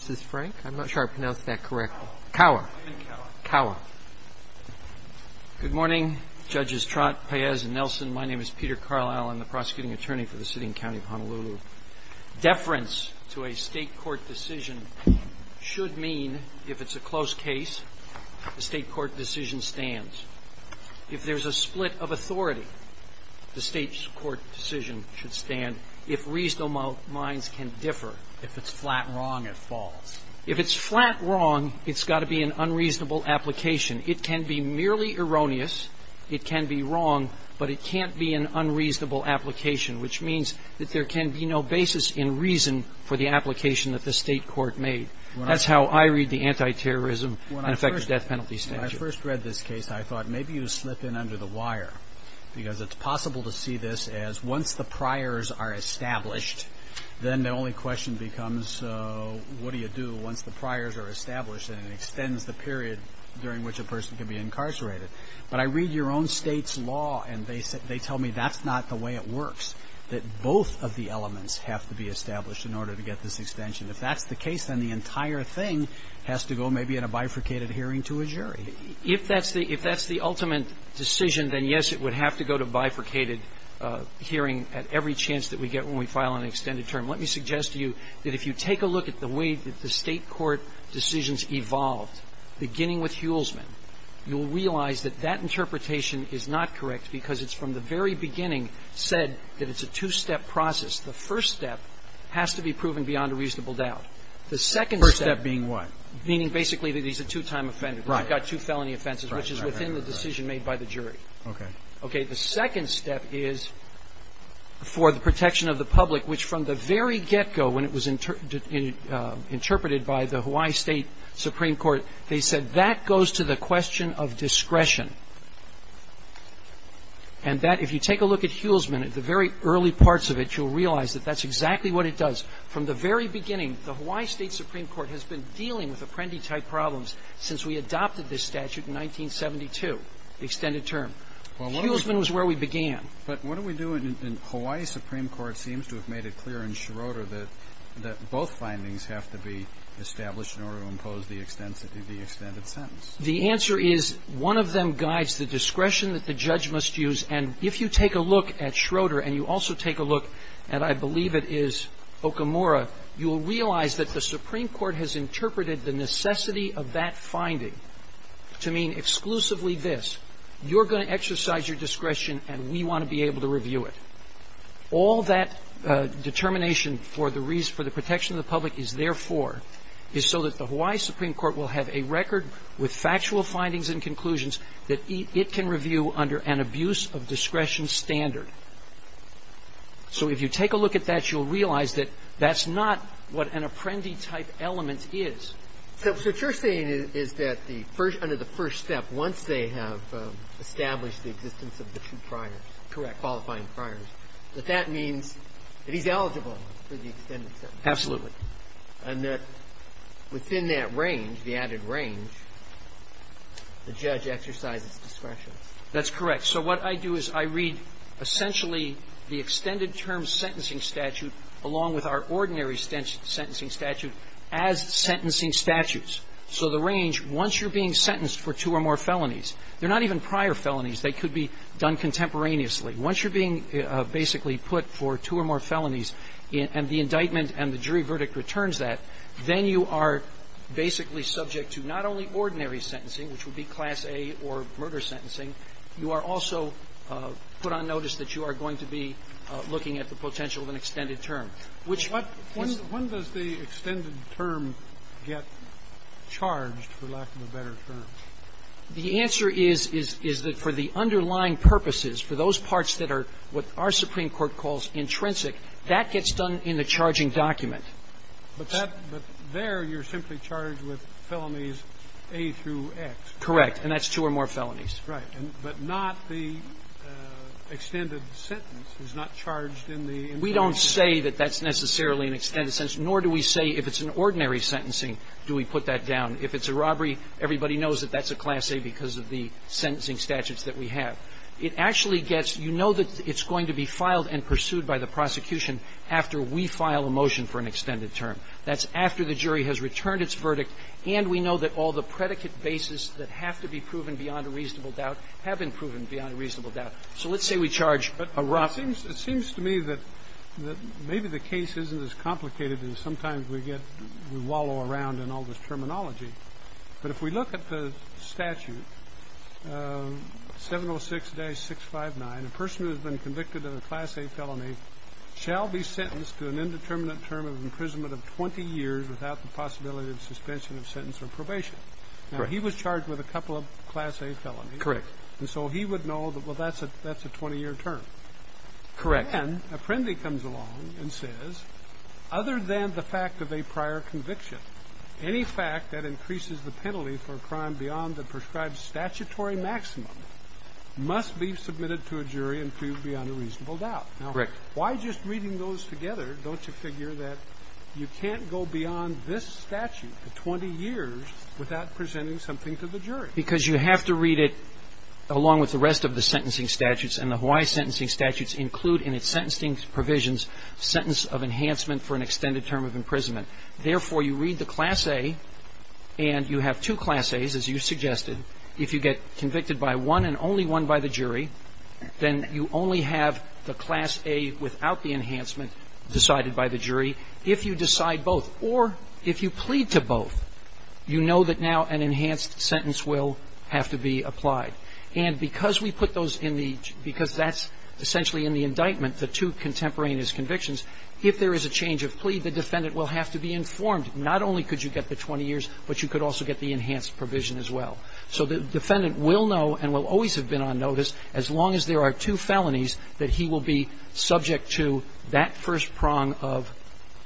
Frank, I'm not sure I pronounced that correctly. Kaua. I am Kaua. Kaua. Good morning, Judges Trott, Paez and Nelson. My name is Peter Carlisle. I'm the prosecuting attorney for the sitting county of Honolulu. Deference to a state court decision should mean, if it's a close case, the state court decision stands. If there's a split of authority, the state's court decision should stand, if reasonable minds can differ. If it's flat wrong, it falls. If it's flat wrong, it's got to be an unreasonable application. It can be merely erroneous. It can be wrong, but it can't be an unreasonable application, which means that there can be no basis in reason for the application that the state court made. That's how I read the anti-terrorism and effective death penalty statute. When I first read this case, I thought, maybe you slip in under the wire, because it's possible to see this as, once the priors are established, then the only question becomes, what do you do once the priors are established, and it extends the period during which a person can be incarcerated. But I read your own State's law, and they tell me that's not the way it works, that both of the elements have to be established in order to get this extension. If that's the case, then the entire thing has to go, maybe, in a bifurcated hearing to a jury. If that's the ultimate decision, then, yes, it would have to go to bifurcated hearing at every chance that we get when we file an extended term. Let me suggest to you that if you take a look at the way that the State court decisions evolved, beginning with Huelsman, you'll realize that that interpretation is not correct, because it's from the very beginning said that it's a two-step process. The first step has to be proven beyond a reasonable doubt. The second step being what? Meaning, basically, that he's a two-time offender. Right. I've got two felony offenses, which is within the decision made by the jury. Okay. Okay. The second step is for the protection of the public, which, from the very get-go, when it was interpreted by the Hawaii State Supreme Court, they said that goes to the question of discretion. And that, if you take a look at Huelsman, at the very early parts of it, you'll realize that that's exactly what it does. From the very beginning, the Hawaii State Supreme Court has been dealing with statute in 1972, the extended term. Huelsman was where we began. But what do we do in the Hawaii Supreme Court seems to have made it clear in Schroeder that both findings have to be established in order to impose the extended sentence. The answer is, one of them guides the discretion that the judge must use. And if you take a look at Schroeder, and you also take a look at, I believe it is Okamura, you'll realize that the Supreme Court has interpreted the necessity of that finding to mean exclusively this. You're going to exercise your discretion, and we want to be able to review it. All that determination for the reason for the protection of the public is therefore is so that the Hawaii Supreme Court will have a record with factual findings and conclusions that it can review under an abuse-of-discretion standard. So if you take a look at that, you'll realize that that's not what an apprendee-type element is. So what you're saying is that the first under the first step, once they have established the existence of the two priors, qualifying priors, that that means that he's eligible for the extended sentence. Absolutely. And that within that range, the added range, the judge exercises discretion. That's correct. So what I do is I read essentially the extended-term sentencing statute, along with our ordinary sentencing statute, as sentencing statutes. So the range, once you're being sentenced for two or more felonies, they're not even prior felonies. They could be done contemporaneously. Once you're being basically put for two or more felonies, and the indictment and the jury verdict returns that, then you are basically subject to not only ordinary sentencing, which would be Class A or murder sentencing, you are also put on notice that you are going to be looking at the potential of an extended term. Which is the case. When does the extended term get charged, for lack of a better term? The answer is, is that for the underlying purposes, for those parts that are what our Supreme Court calls intrinsic, that gets done in the charging document. But that – but there, you're simply charged with felonies A through X. Correct. And that's two or more felonies. Right. But not the extended sentence is not charged in the introduction. We don't say that that's necessarily an extended sentence, nor do we say if it's an ordinary sentencing, do we put that down. If it's a robbery, everybody knows that that's a Class A because of the sentencing statutes that we have. It actually gets – you know that it's going to be filed and pursued by the prosecution after we file a motion for an extended term. That's after the jury has returned its verdict, and we know that all the predicate bases that have to be proven beyond a reasonable doubt have been proven beyond a reasonable doubt. So let's say we charge a robbery. It seems to me that maybe the case isn't as complicated as sometimes we get – we wallow around in all this terminology. But if we look at the statute, 706-659, a person who has been convicted of a Class A felony shall be sentenced to an indeterminate term of imprisonment of 20 years without the possibility of suspension of sentence or probation. Now, he was charged with a couple of Class A felonies. Correct. And so he would know that, well, that's a 20-year term. Correct. Then a friend of his comes along and says, other than the fact of a prior conviction, any fact that increases the penalty for a crime beyond the prescribed statutory maximum must be submitted to a jury and proved beyond a reasonable doubt. Correct. Why just reading those together don't you figure that you can't go beyond this statute for 20 years without presenting something to the jury? Because you have to read it along with the rest of the sentencing statutes. And the Hawaii sentencing statutes include in its sentencing provisions sentence of enhancement for an extended term of imprisonment. Therefore, you read the Class A and you have two Class As, as you suggested. If you get convicted by one and only one by the jury, then you only have the Class A without the enhancement decided by the jury if you decide both. Or if you plead to both, you know that now an enhanced sentence will have to be applied. And because we put those in the, because that's essentially in the indictment, the two contemporaneous convictions, if there is a change of plea, the defendant will have to be informed. Not only could you get the 20 years, but you could also get the enhanced provision as well. So the defendant will know and will always have been on notice as long as there are two felonies that he will be subject to that first prong of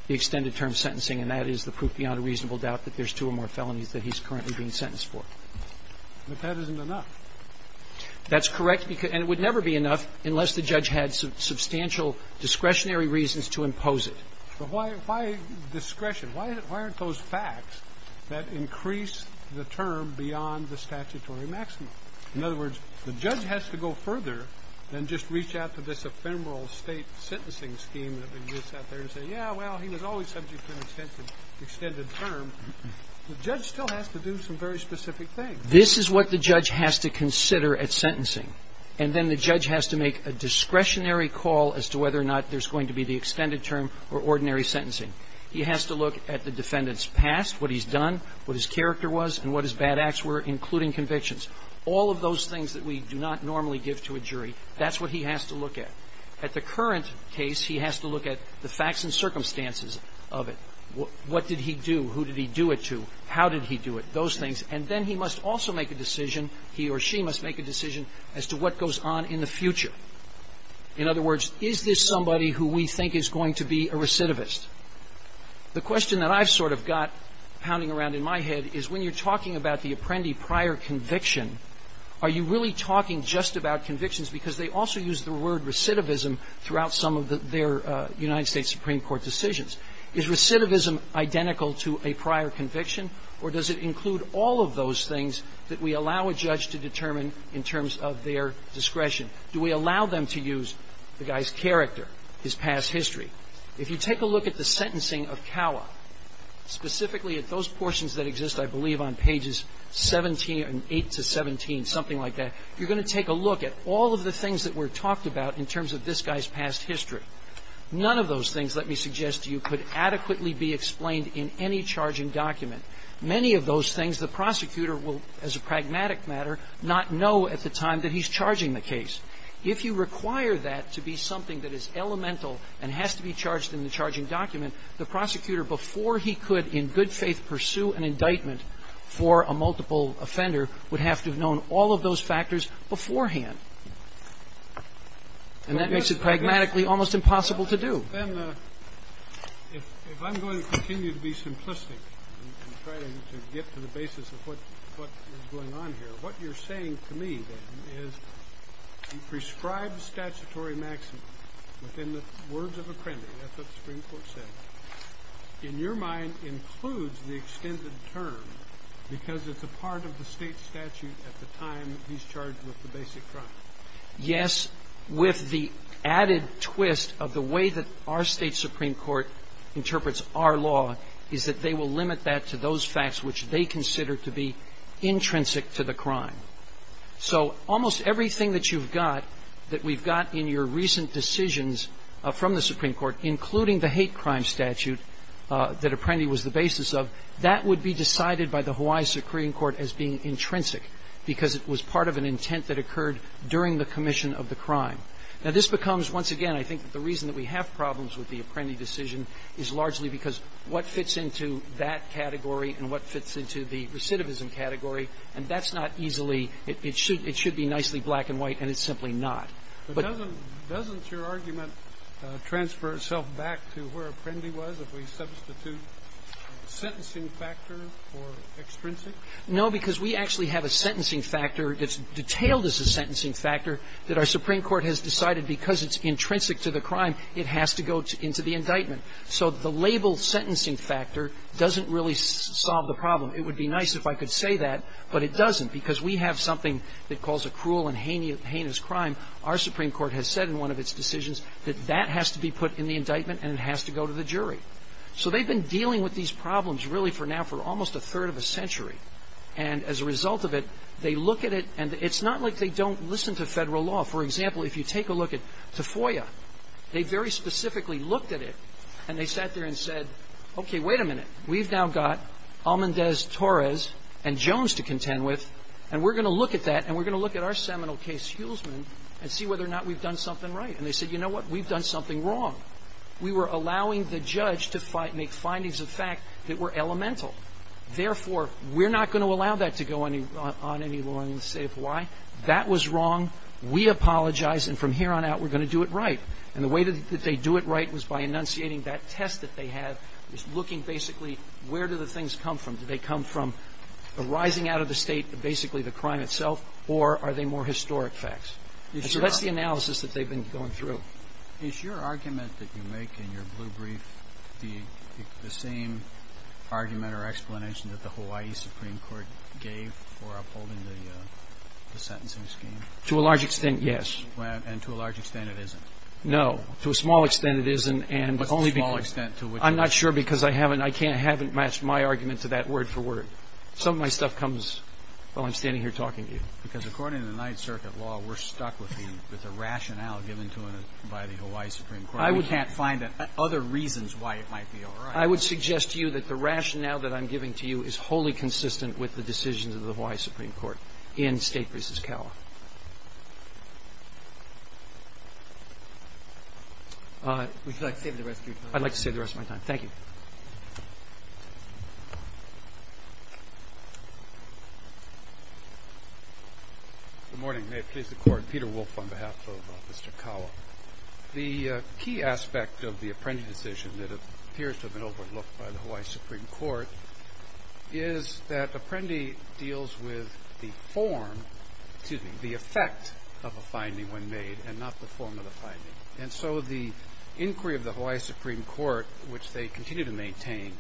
the extended term sentencing and that is the proof beyond a reasonable doubt that there's two or more felonies that he's currently being sentenced for. But that isn't enough. That's correct. And it would never be enough unless the judge had substantial discretionary reasons to impose it. But why discretion? Why aren't those facts that increase the term beyond the statutory maximum? In other words, the judge has to go further than just reach out to this ephemeral State sentencing scheme that exists out there and say, yeah, well, he was always subject to an extended term. The judge still has to do some very specific things. This is what the judge has to consider at sentencing. And then the judge has to make a discretionary call as to whether or not there's going to be the extended term or ordinary sentencing. He has to look at the defendant's past, what he's done, what his character was, and what his bad acts were, including convictions. All of those things that we do not normally give to a jury, that's what he has to look at. At the current case, he has to look at the facts and circumstances of it. What did he do? Who did he do it to? How did he do it? Those things. And then he must also make a decision, he or she must make a decision as to what goes on in the future. In other words, is this somebody who we think is going to be a recidivist? The question that I've sort of got pounding around in my head is when you're talking about the apprendi prior conviction, are you really talking just about convictions because they also use the word recidivism throughout some of their United States Supreme Court decisions? Is recidivism identical to a prior conviction, or does it include all of those things that we allow a judge to determine in terms of their discretion? Do we allow them to use the guy's character, his past history? If you take a look at the sentencing of Cowa, specifically at those portions that exist, I believe, on pages 17 and 8 to 17, something like that, you're going to take a look at all of the things that were talked about in terms of this guy's past history. None of those things, let me suggest to you, could adequately be explained in any charging document. Many of those things, the prosecutor will, as a pragmatic matter, not know at the time that he's charging the case. If you require that to be something that is elemental and has to be charged in the charging document, the prosecutor, before he could in good faith pursue an indictment for a multiple offender, would have to have known all of those factors beforehand. And that makes it pragmatically almost impossible to do. If I'm going to continue to be simplistic and try to get to the basis of what is going on here, what you're saying to me, then, is you prescribe the statutory maximum within the words of apprendi, that's what the Supreme Court said. In your mind, includes the extended term because it's a part of the state statute at the time he's charged with the basic crime. Yes, with the added twist of the way that our state Supreme Court interprets our law is that they will limit that to those facts which they consider to be intrinsic to the crime. So almost everything that you've got, that we've got in your recent decisions from the Supreme Court, including the hate crime statute that apprendi was the basis of, that would be decided by the Hawaii Supreme Court as being intrinsic because it was part of an intent that occurred during the commission of the crime. Now, this becomes, once again, I think the reason that we have problems with the apprendi decision is largely because what fits into that category and what fits into the recidivism category, and that's not easily – it should be nicely black and white, and it's simply not. But doesn't your argument transfer itself back to where apprendi was if we substitute sentencing factor for extrinsic? No, because we actually have a sentencing factor that's detailed as a sentencing factor that our Supreme Court has decided because it's intrinsic to the crime, it has to go into the indictment. So the label sentencing factor doesn't really solve the problem. It would be nice if I could say that, but it doesn't, because we have something that calls a cruel and heinous crime. Our Supreme Court has said in one of its decisions that that has to be put in the indictment and it has to go to the jury. So they've been dealing with these problems really for now for almost a third of a century. And as a result of it, they look at it, and it's not like they don't listen to federal law. For example, if you take a look at FOIA, they very specifically looked at it and they sat there and said, okay, wait a minute. We've now got Almendez-Torres and Jones to contend with and we're going to look at that and we're going to look at our seminal case, Hulsman, and see whether or not we've done something right. And they said, you know what, we've done something wrong. We were allowing the judge to make findings of fact that were elemental. Therefore, we're not going to allow that to go on any law in the state of Hawaii. That was wrong. We apologize, and from here on out, we're going to do it right. And the way that they do it right was by enunciating that test that they had, just looking basically where do the things come from. Do they come from the rising out of the state, basically the crime itself, or are they more historic facts? And so that's the analysis that they've been going through. Is your argument that you make in your blue brief the same argument or explanation that the Hawaii Supreme Court gave for upholding the sentencing scheme? To a large extent, yes. And to a large extent, it isn't? No, to a small extent it isn't, and only because- What's the small extent to which- I'm not sure because I haven't matched my argument to that word for word. Some of my stuff comes while I'm standing here talking to you. Because according to the Ninth Circuit law, we're stuck with the rationale given to us by the Hawaii Supreme Court. We can't find other reasons why it might be all right. I would suggest to you that the rationale that I'm giving to you is wholly consistent with the decisions of the Hawaii Supreme Court in State v. Calif. Would you like to save the rest of your time? I'd like to save the rest of my time. Thank you. Good morning. May it please the Court. Peter Wolfe on behalf of Mr. Kawa. The key aspect of the Apprendi decision that appears to have been overlooked by the Hawaii Supreme Court is that Apprendi deals with the form, excuse me, the effect of a finding when made and not the form of the finding. And so the inquiry of the Hawaii Supreme Court, which they continue to maintain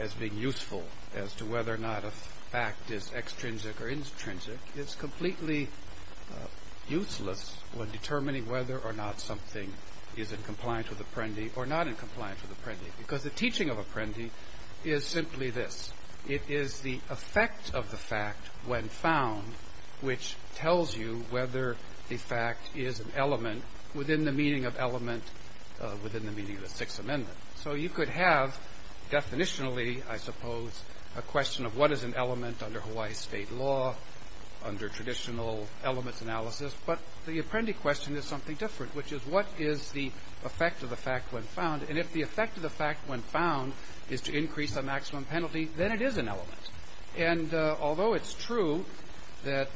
as being useful as to whether or not a fact is extrinsic or intrinsic, is completely useless when determining whether or not something is in compliance with Apprendi or not in compliance with Apprendi. Because the teaching of Apprendi is simply this. It is the effect of the fact when found which tells you whether the fact is an element within the meaning of element, within the meaning of the Sixth Amendment. So you could have, definitionally, I suppose, a question of what is an element under Hawaii state law, under traditional elements analysis, but the Apprendi question is something different, which is what is the effect of the fact when found? And if the effect of the fact when found is to increase the maximum penalty, then it is an element. And although it's true that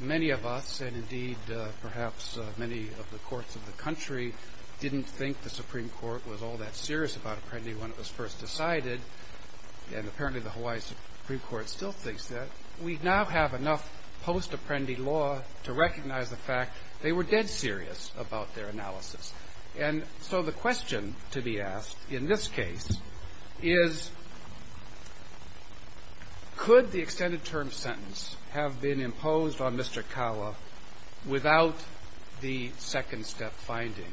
many of us, and indeed, perhaps many of the courts of the country, didn't think the Supreme Court was all that serious about Apprendi when it was first decided, and apparently the Hawaii Supreme Court still thinks that, we now have enough post-Apprendi law to recognize the fact they were dead serious about their analysis. And so the question to be asked, in this case, is, could the extended term sentence have been imposed on Mr. Kawa without the second step finding,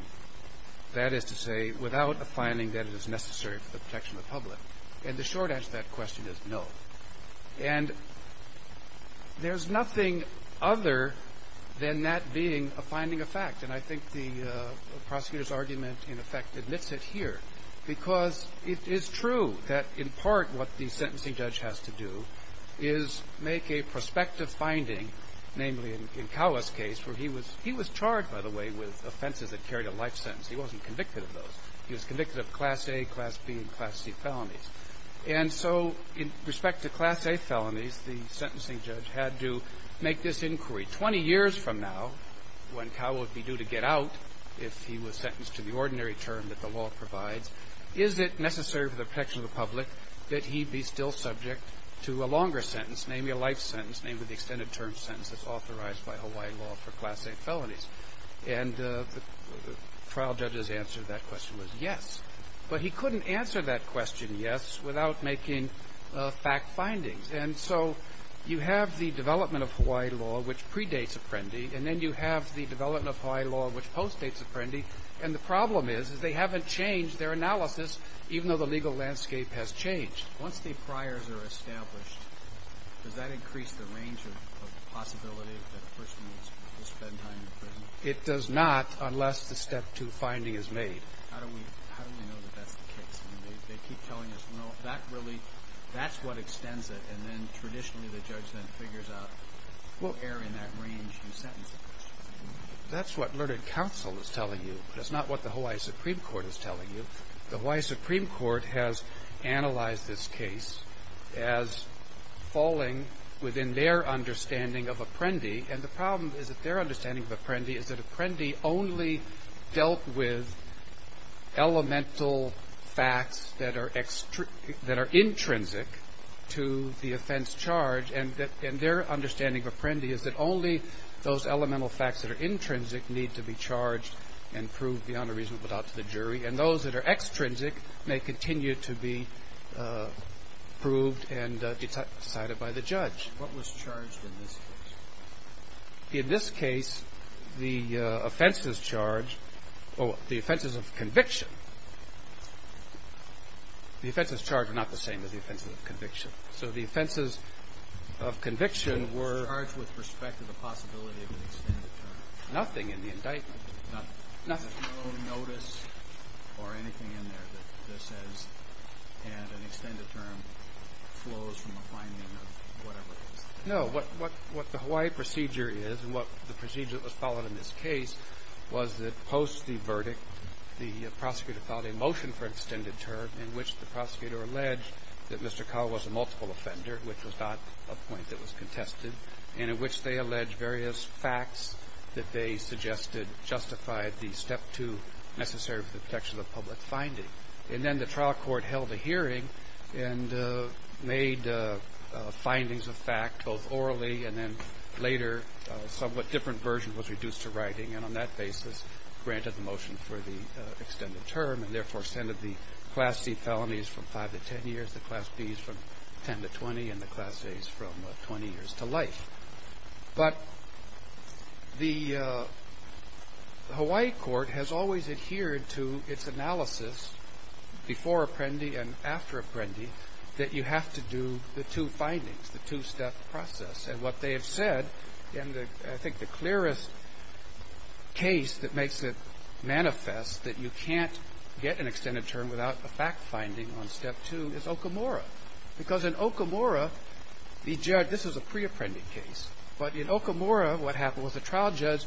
that is to say, without a finding that it is necessary for the protection of the public? And the short answer to that question is no. And there's nothing other than that being a finding of fact. And I think the prosecutor's argument, in effect, admits it here. Because it is true that, in part, what the sentencing judge has to do is make a prospective finding, namely in Kawa's case, where he was charged, by the way, with offenses that carried a life sentence. He wasn't convicted of those. He was convicted of Class A, Class B, and Class C felonies. And so, in respect to Class A felonies, the sentencing judge had to make this inquiry. 20 years from now, when Kawa would be due to get out, if he was sentenced to the ordinary term that the law provides, is it necessary for the protection of the public that he be still subject to a longer sentence, namely a life sentence, namely the extended term sentence that's authorized by Hawaii law for Class A felonies? And the trial judge's answer to that question was yes. But he couldn't answer that question yes without making fact findings. And so, you have the development of Hawaii law, which predates Apprendi, and then you have the development of Hawaii law, which postdates Apprendi. And the problem is, is they haven't changed their analysis, even though the legal landscape has changed. Once the priors are established, does that increase the range of possibility that a person will spend time in prison? It does not, unless the step two finding is made. How do we, how do we know that that's the case? I mean, they, they keep telling us, no, that really, that's what extends it. And then, traditionally, the judge then figures out. What error in that range do you sentence a person to? That's what Learned Counsel is telling you. That's not what the Hawaii Supreme Court is telling you. The Hawaii Supreme Court has analyzed this case as falling within their understanding of Apprendi. And the problem is that their understanding of Apprendi is that Apprendi only dealt with elemental facts that are extr, that are intrinsic to the offense charge. And that, and their understanding of Apprendi is that only those elemental facts that are intrinsic need to be charged and proved beyond a reasonable doubt to the jury. And those that are extrinsic may continue to be proved and decided by the judge. What was charged in this case? In this case, the offenses charged, or the offenses of conviction, the offenses charged are not the same as the offenses of conviction. So the offenses of conviction were. Charged with respect to the possibility of an extended term. Nothing in the indictment. Nothing. Nothing. There's no notice or anything in there that says, and an extended term flows from a finding of whatever it is. No, what the Hawaii procedure is, and what the procedure that was followed in this case, was that post the verdict, the prosecutor filed a motion for extended term in which the prosecutor alleged that Mr. Cowell was a multiple offender, which was not a point that was contested, and in which they alleged various facts that they suggested justified the step two necessary for the protection of public finding. And then the trial court held a hearing and made findings of fact, both orally and then later a somewhat different version was reduced to writing. And on that basis, granted the motion for the extended term and therefore extended the class C felonies from 5 to 10 years, the class B's from 10 to 20, and the class A's from 20 years to life. But the Hawaii court has always adhered to its analysis before Apprendi and after Apprendi that you have to do the two findings, the two step process. And what they have said, and I think the clearest case that makes it manifest that you can't get an extended term without a fact finding on step two is Okamura. Because in Okamura, the judge, this was a pre-Apprendi case, but in Okamura what happened was the trial judge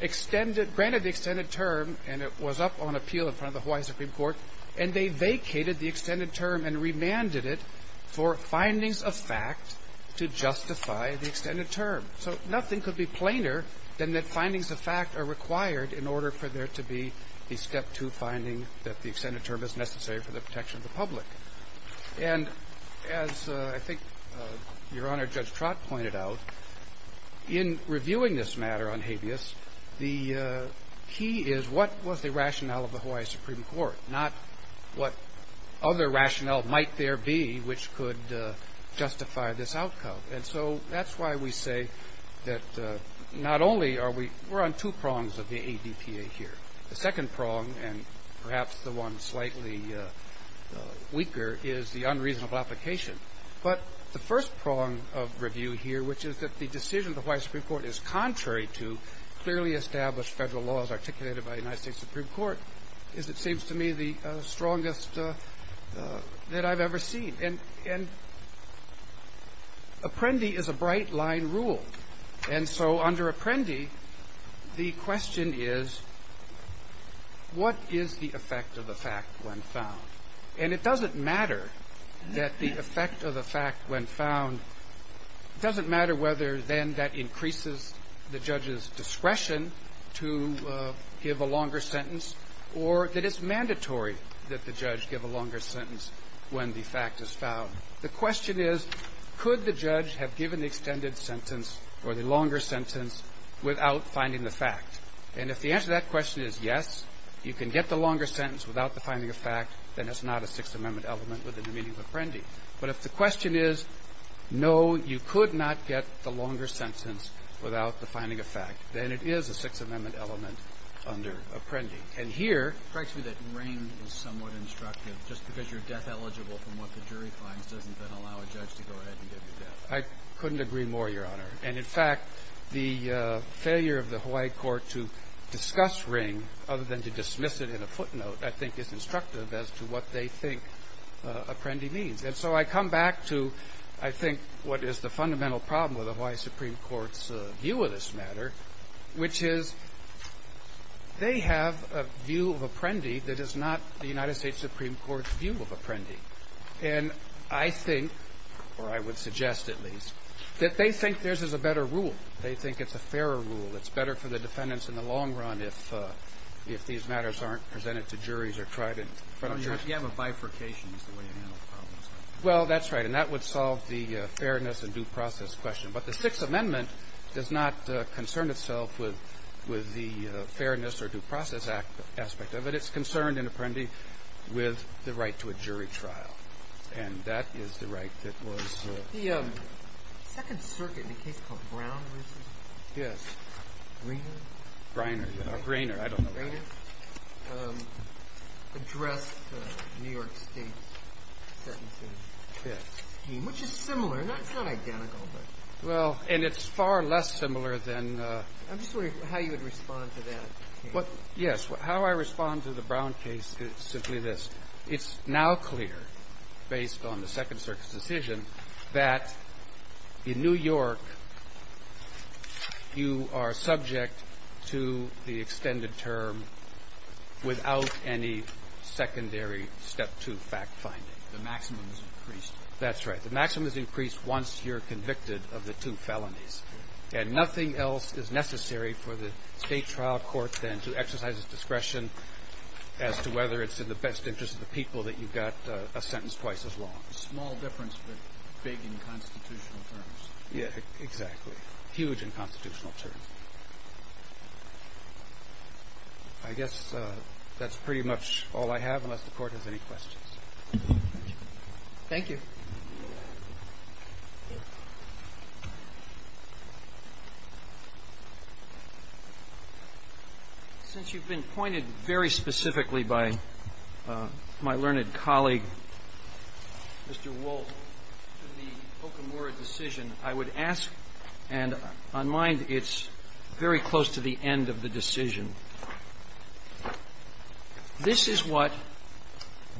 extended, granted the extended term and it was up on appeal in front of the Hawaii Supreme Court, and they vacated the extended term and remanded it for findings of fact to justify the extended term. So nothing could be plainer than that findings of fact are required in order for there to be a step two finding that the extended term is necessary for the protection of the public. And as I think Your Honor, Judge Trott pointed out, in reviewing this matter on habeas, the key is what was the rationale of the Hawaii Supreme Court, not what other rationale might there be which could justify this outcome. And so that's why we say that not only are we, we're on two prongs of the ADPA here. The second prong, and perhaps the one slightly weaker, is the unreasonable application. But the first prong of review here, which is that the decision of the Hawaii Supreme Court is contrary to clearly established federal laws articulated by the United States Supreme Court, is it seems to me the strongest that I've ever seen. And, and Apprendi is a bright line rule. And so under Apprendi, the question is, what is the effect of the fact when found? And it doesn't matter that the effect of the fact when found, doesn't matter whether then that increases the judge's discretion to give a longer sentence or that it's mandatory that the judge give a longer sentence when the fact is found. The question is, could the judge have given the extended sentence or the longer sentence without finding the fact? And if the answer to that question is yes, you can get the longer sentence without the finding of fact, then it's not a Sixth Amendment element within the meaning of Apprendi. But if the question is, no, you could not get the longer sentence without the finding of fact, then it is a Sixth Amendment element under Apprendi. And here... It strikes me that Ring is somewhat instructive, just because you're death eligible from what the jury finds doesn't then allow a judge to go ahead and give you death. I couldn't agree more, Your Honor. And in fact, the failure of the Hawaii court to discuss Ring, other than to dismiss it in a footnote, I think is instructive as to what they think Apprendi means. And so I come back to, I think, what is the fundamental problem with the Hawaii Supreme Court's view of this matter, which is they have a view of Apprendi that is not the United States Supreme Court's view of Apprendi. And I think, or I would suggest at least, that they think theirs is a better rule. They think it's a fairer rule. It's better for the defendants in the long run if these matters aren't presented to juries or tried in front of juries. You have a bifurcation is the way you handle problems. Well, that's right. And that would solve the fairness and due process question. But the Sixth Amendment does not concern itself with the fairness or due process aspect of it. It's concerned, in Apprendi, with the right to a jury trial. And that is the right that was provided. The Second Circuit, in a case called Brown v. Greener, addressed New York State's sentences. And it's a very different scheme, which is similar. It's not identical, but. Well, and it's far less similar than the other. I'm just wondering how you would respond to that case. Yes. How I respond to the Brown case is simply this. It's now clear, based on the Second Circuit's decision, that in New York, you are subject to the extended term without any secondary Step 2 fact-finding. The maximum is increased. That's right. The maximum is increased once you're convicted of the two felonies. And nothing else is necessary for the State trial court, then, to exercise its discretion as to whether it's in the best interest of the people that you got a sentence twice as long. A small difference, but big in constitutional terms. Yeah, exactly. Huge in constitutional terms. I guess that's pretty much all I have, unless the Court has any questions. Thank you. Since you've been pointed very specifically by my learned colleague, Mr. Wolt, to the Okamura decision, I would ask, and on mine, it's very close to the end of the decision. This is what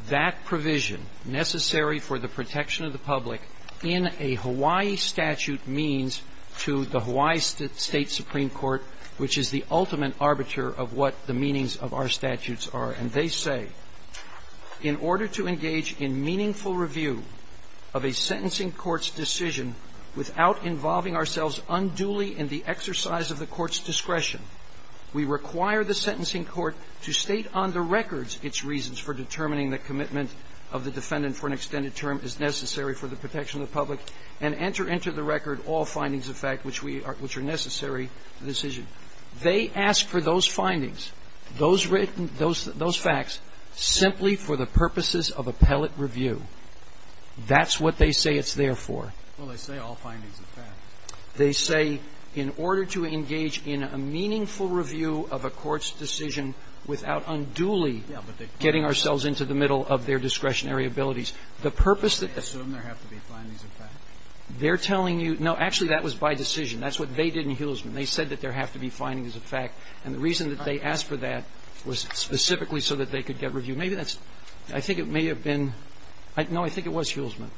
that provision, necessary for the protection of the public, in a Hawaii statute means to the Hawaii State Supreme Court, which is the ultimate arbiter of what the meanings of our statutes are. And they say, in order to engage in meaningful review of a sentencing court's decision without involving ourselves unduly in the exercise of the court's discretion, we require the sentencing court to state on the records its reasons for determining the commitment of the defendant for an extended term as necessary for the protection of the public, and enter into the record all findings of fact which are necessary to the decision. They ask for those findings, those facts, simply for the purposes of appellate review. That's what they say it's there for. Well, they say all findings of fact. They say, in order to engage in a meaningful review of a court's decision without unduly getting ourselves into the middle of their discretionary abilities, the purpose that the ---- They assume there have to be findings of fact. They're telling you no. Actually, that was by decision. That's what they did in Huelsman. They said that there have to be findings of fact. And the reason that they asked for that was specifically so that they could get review. Maybe that's ñ I think it may have been ñ no, I think it was Huelsman.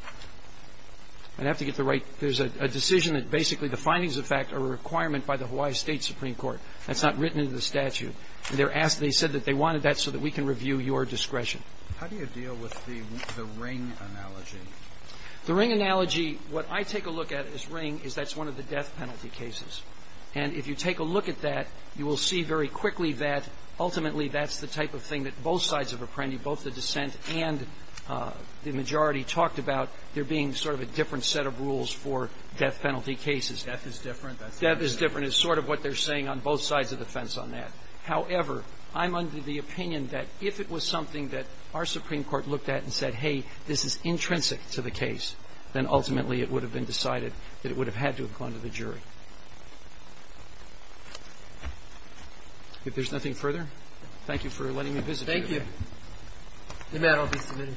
I'd have to get the right ñ there's a decision that justifies that. But basically, the findings of fact are a requirement by the Hawaii State Supreme Court. That's not written into the statute. They're asked ñ they said that they wanted that so that we can review your discretion. How do you deal with the ring analogy? The ring analogy, what I take a look at as ring is that's one of the death penalty cases. And if you take a look at that, you will see very quickly that ultimately that's the type of thing that both sides of Apprendi, both the dissent and the majority talked about there being sort of a different set of rules for death penalty cases. Death is different. Death is different is sort of what they're saying on both sides of the fence on that. However, I'm under the opinion that if it was something that our Supreme Court looked at and said, hey, this is intrinsic to the case, then ultimately it would have been decided that it would have had to have gone to the jury. If there's nothing further, thank you for letting me visit you. Thank you. The matter will be submitted.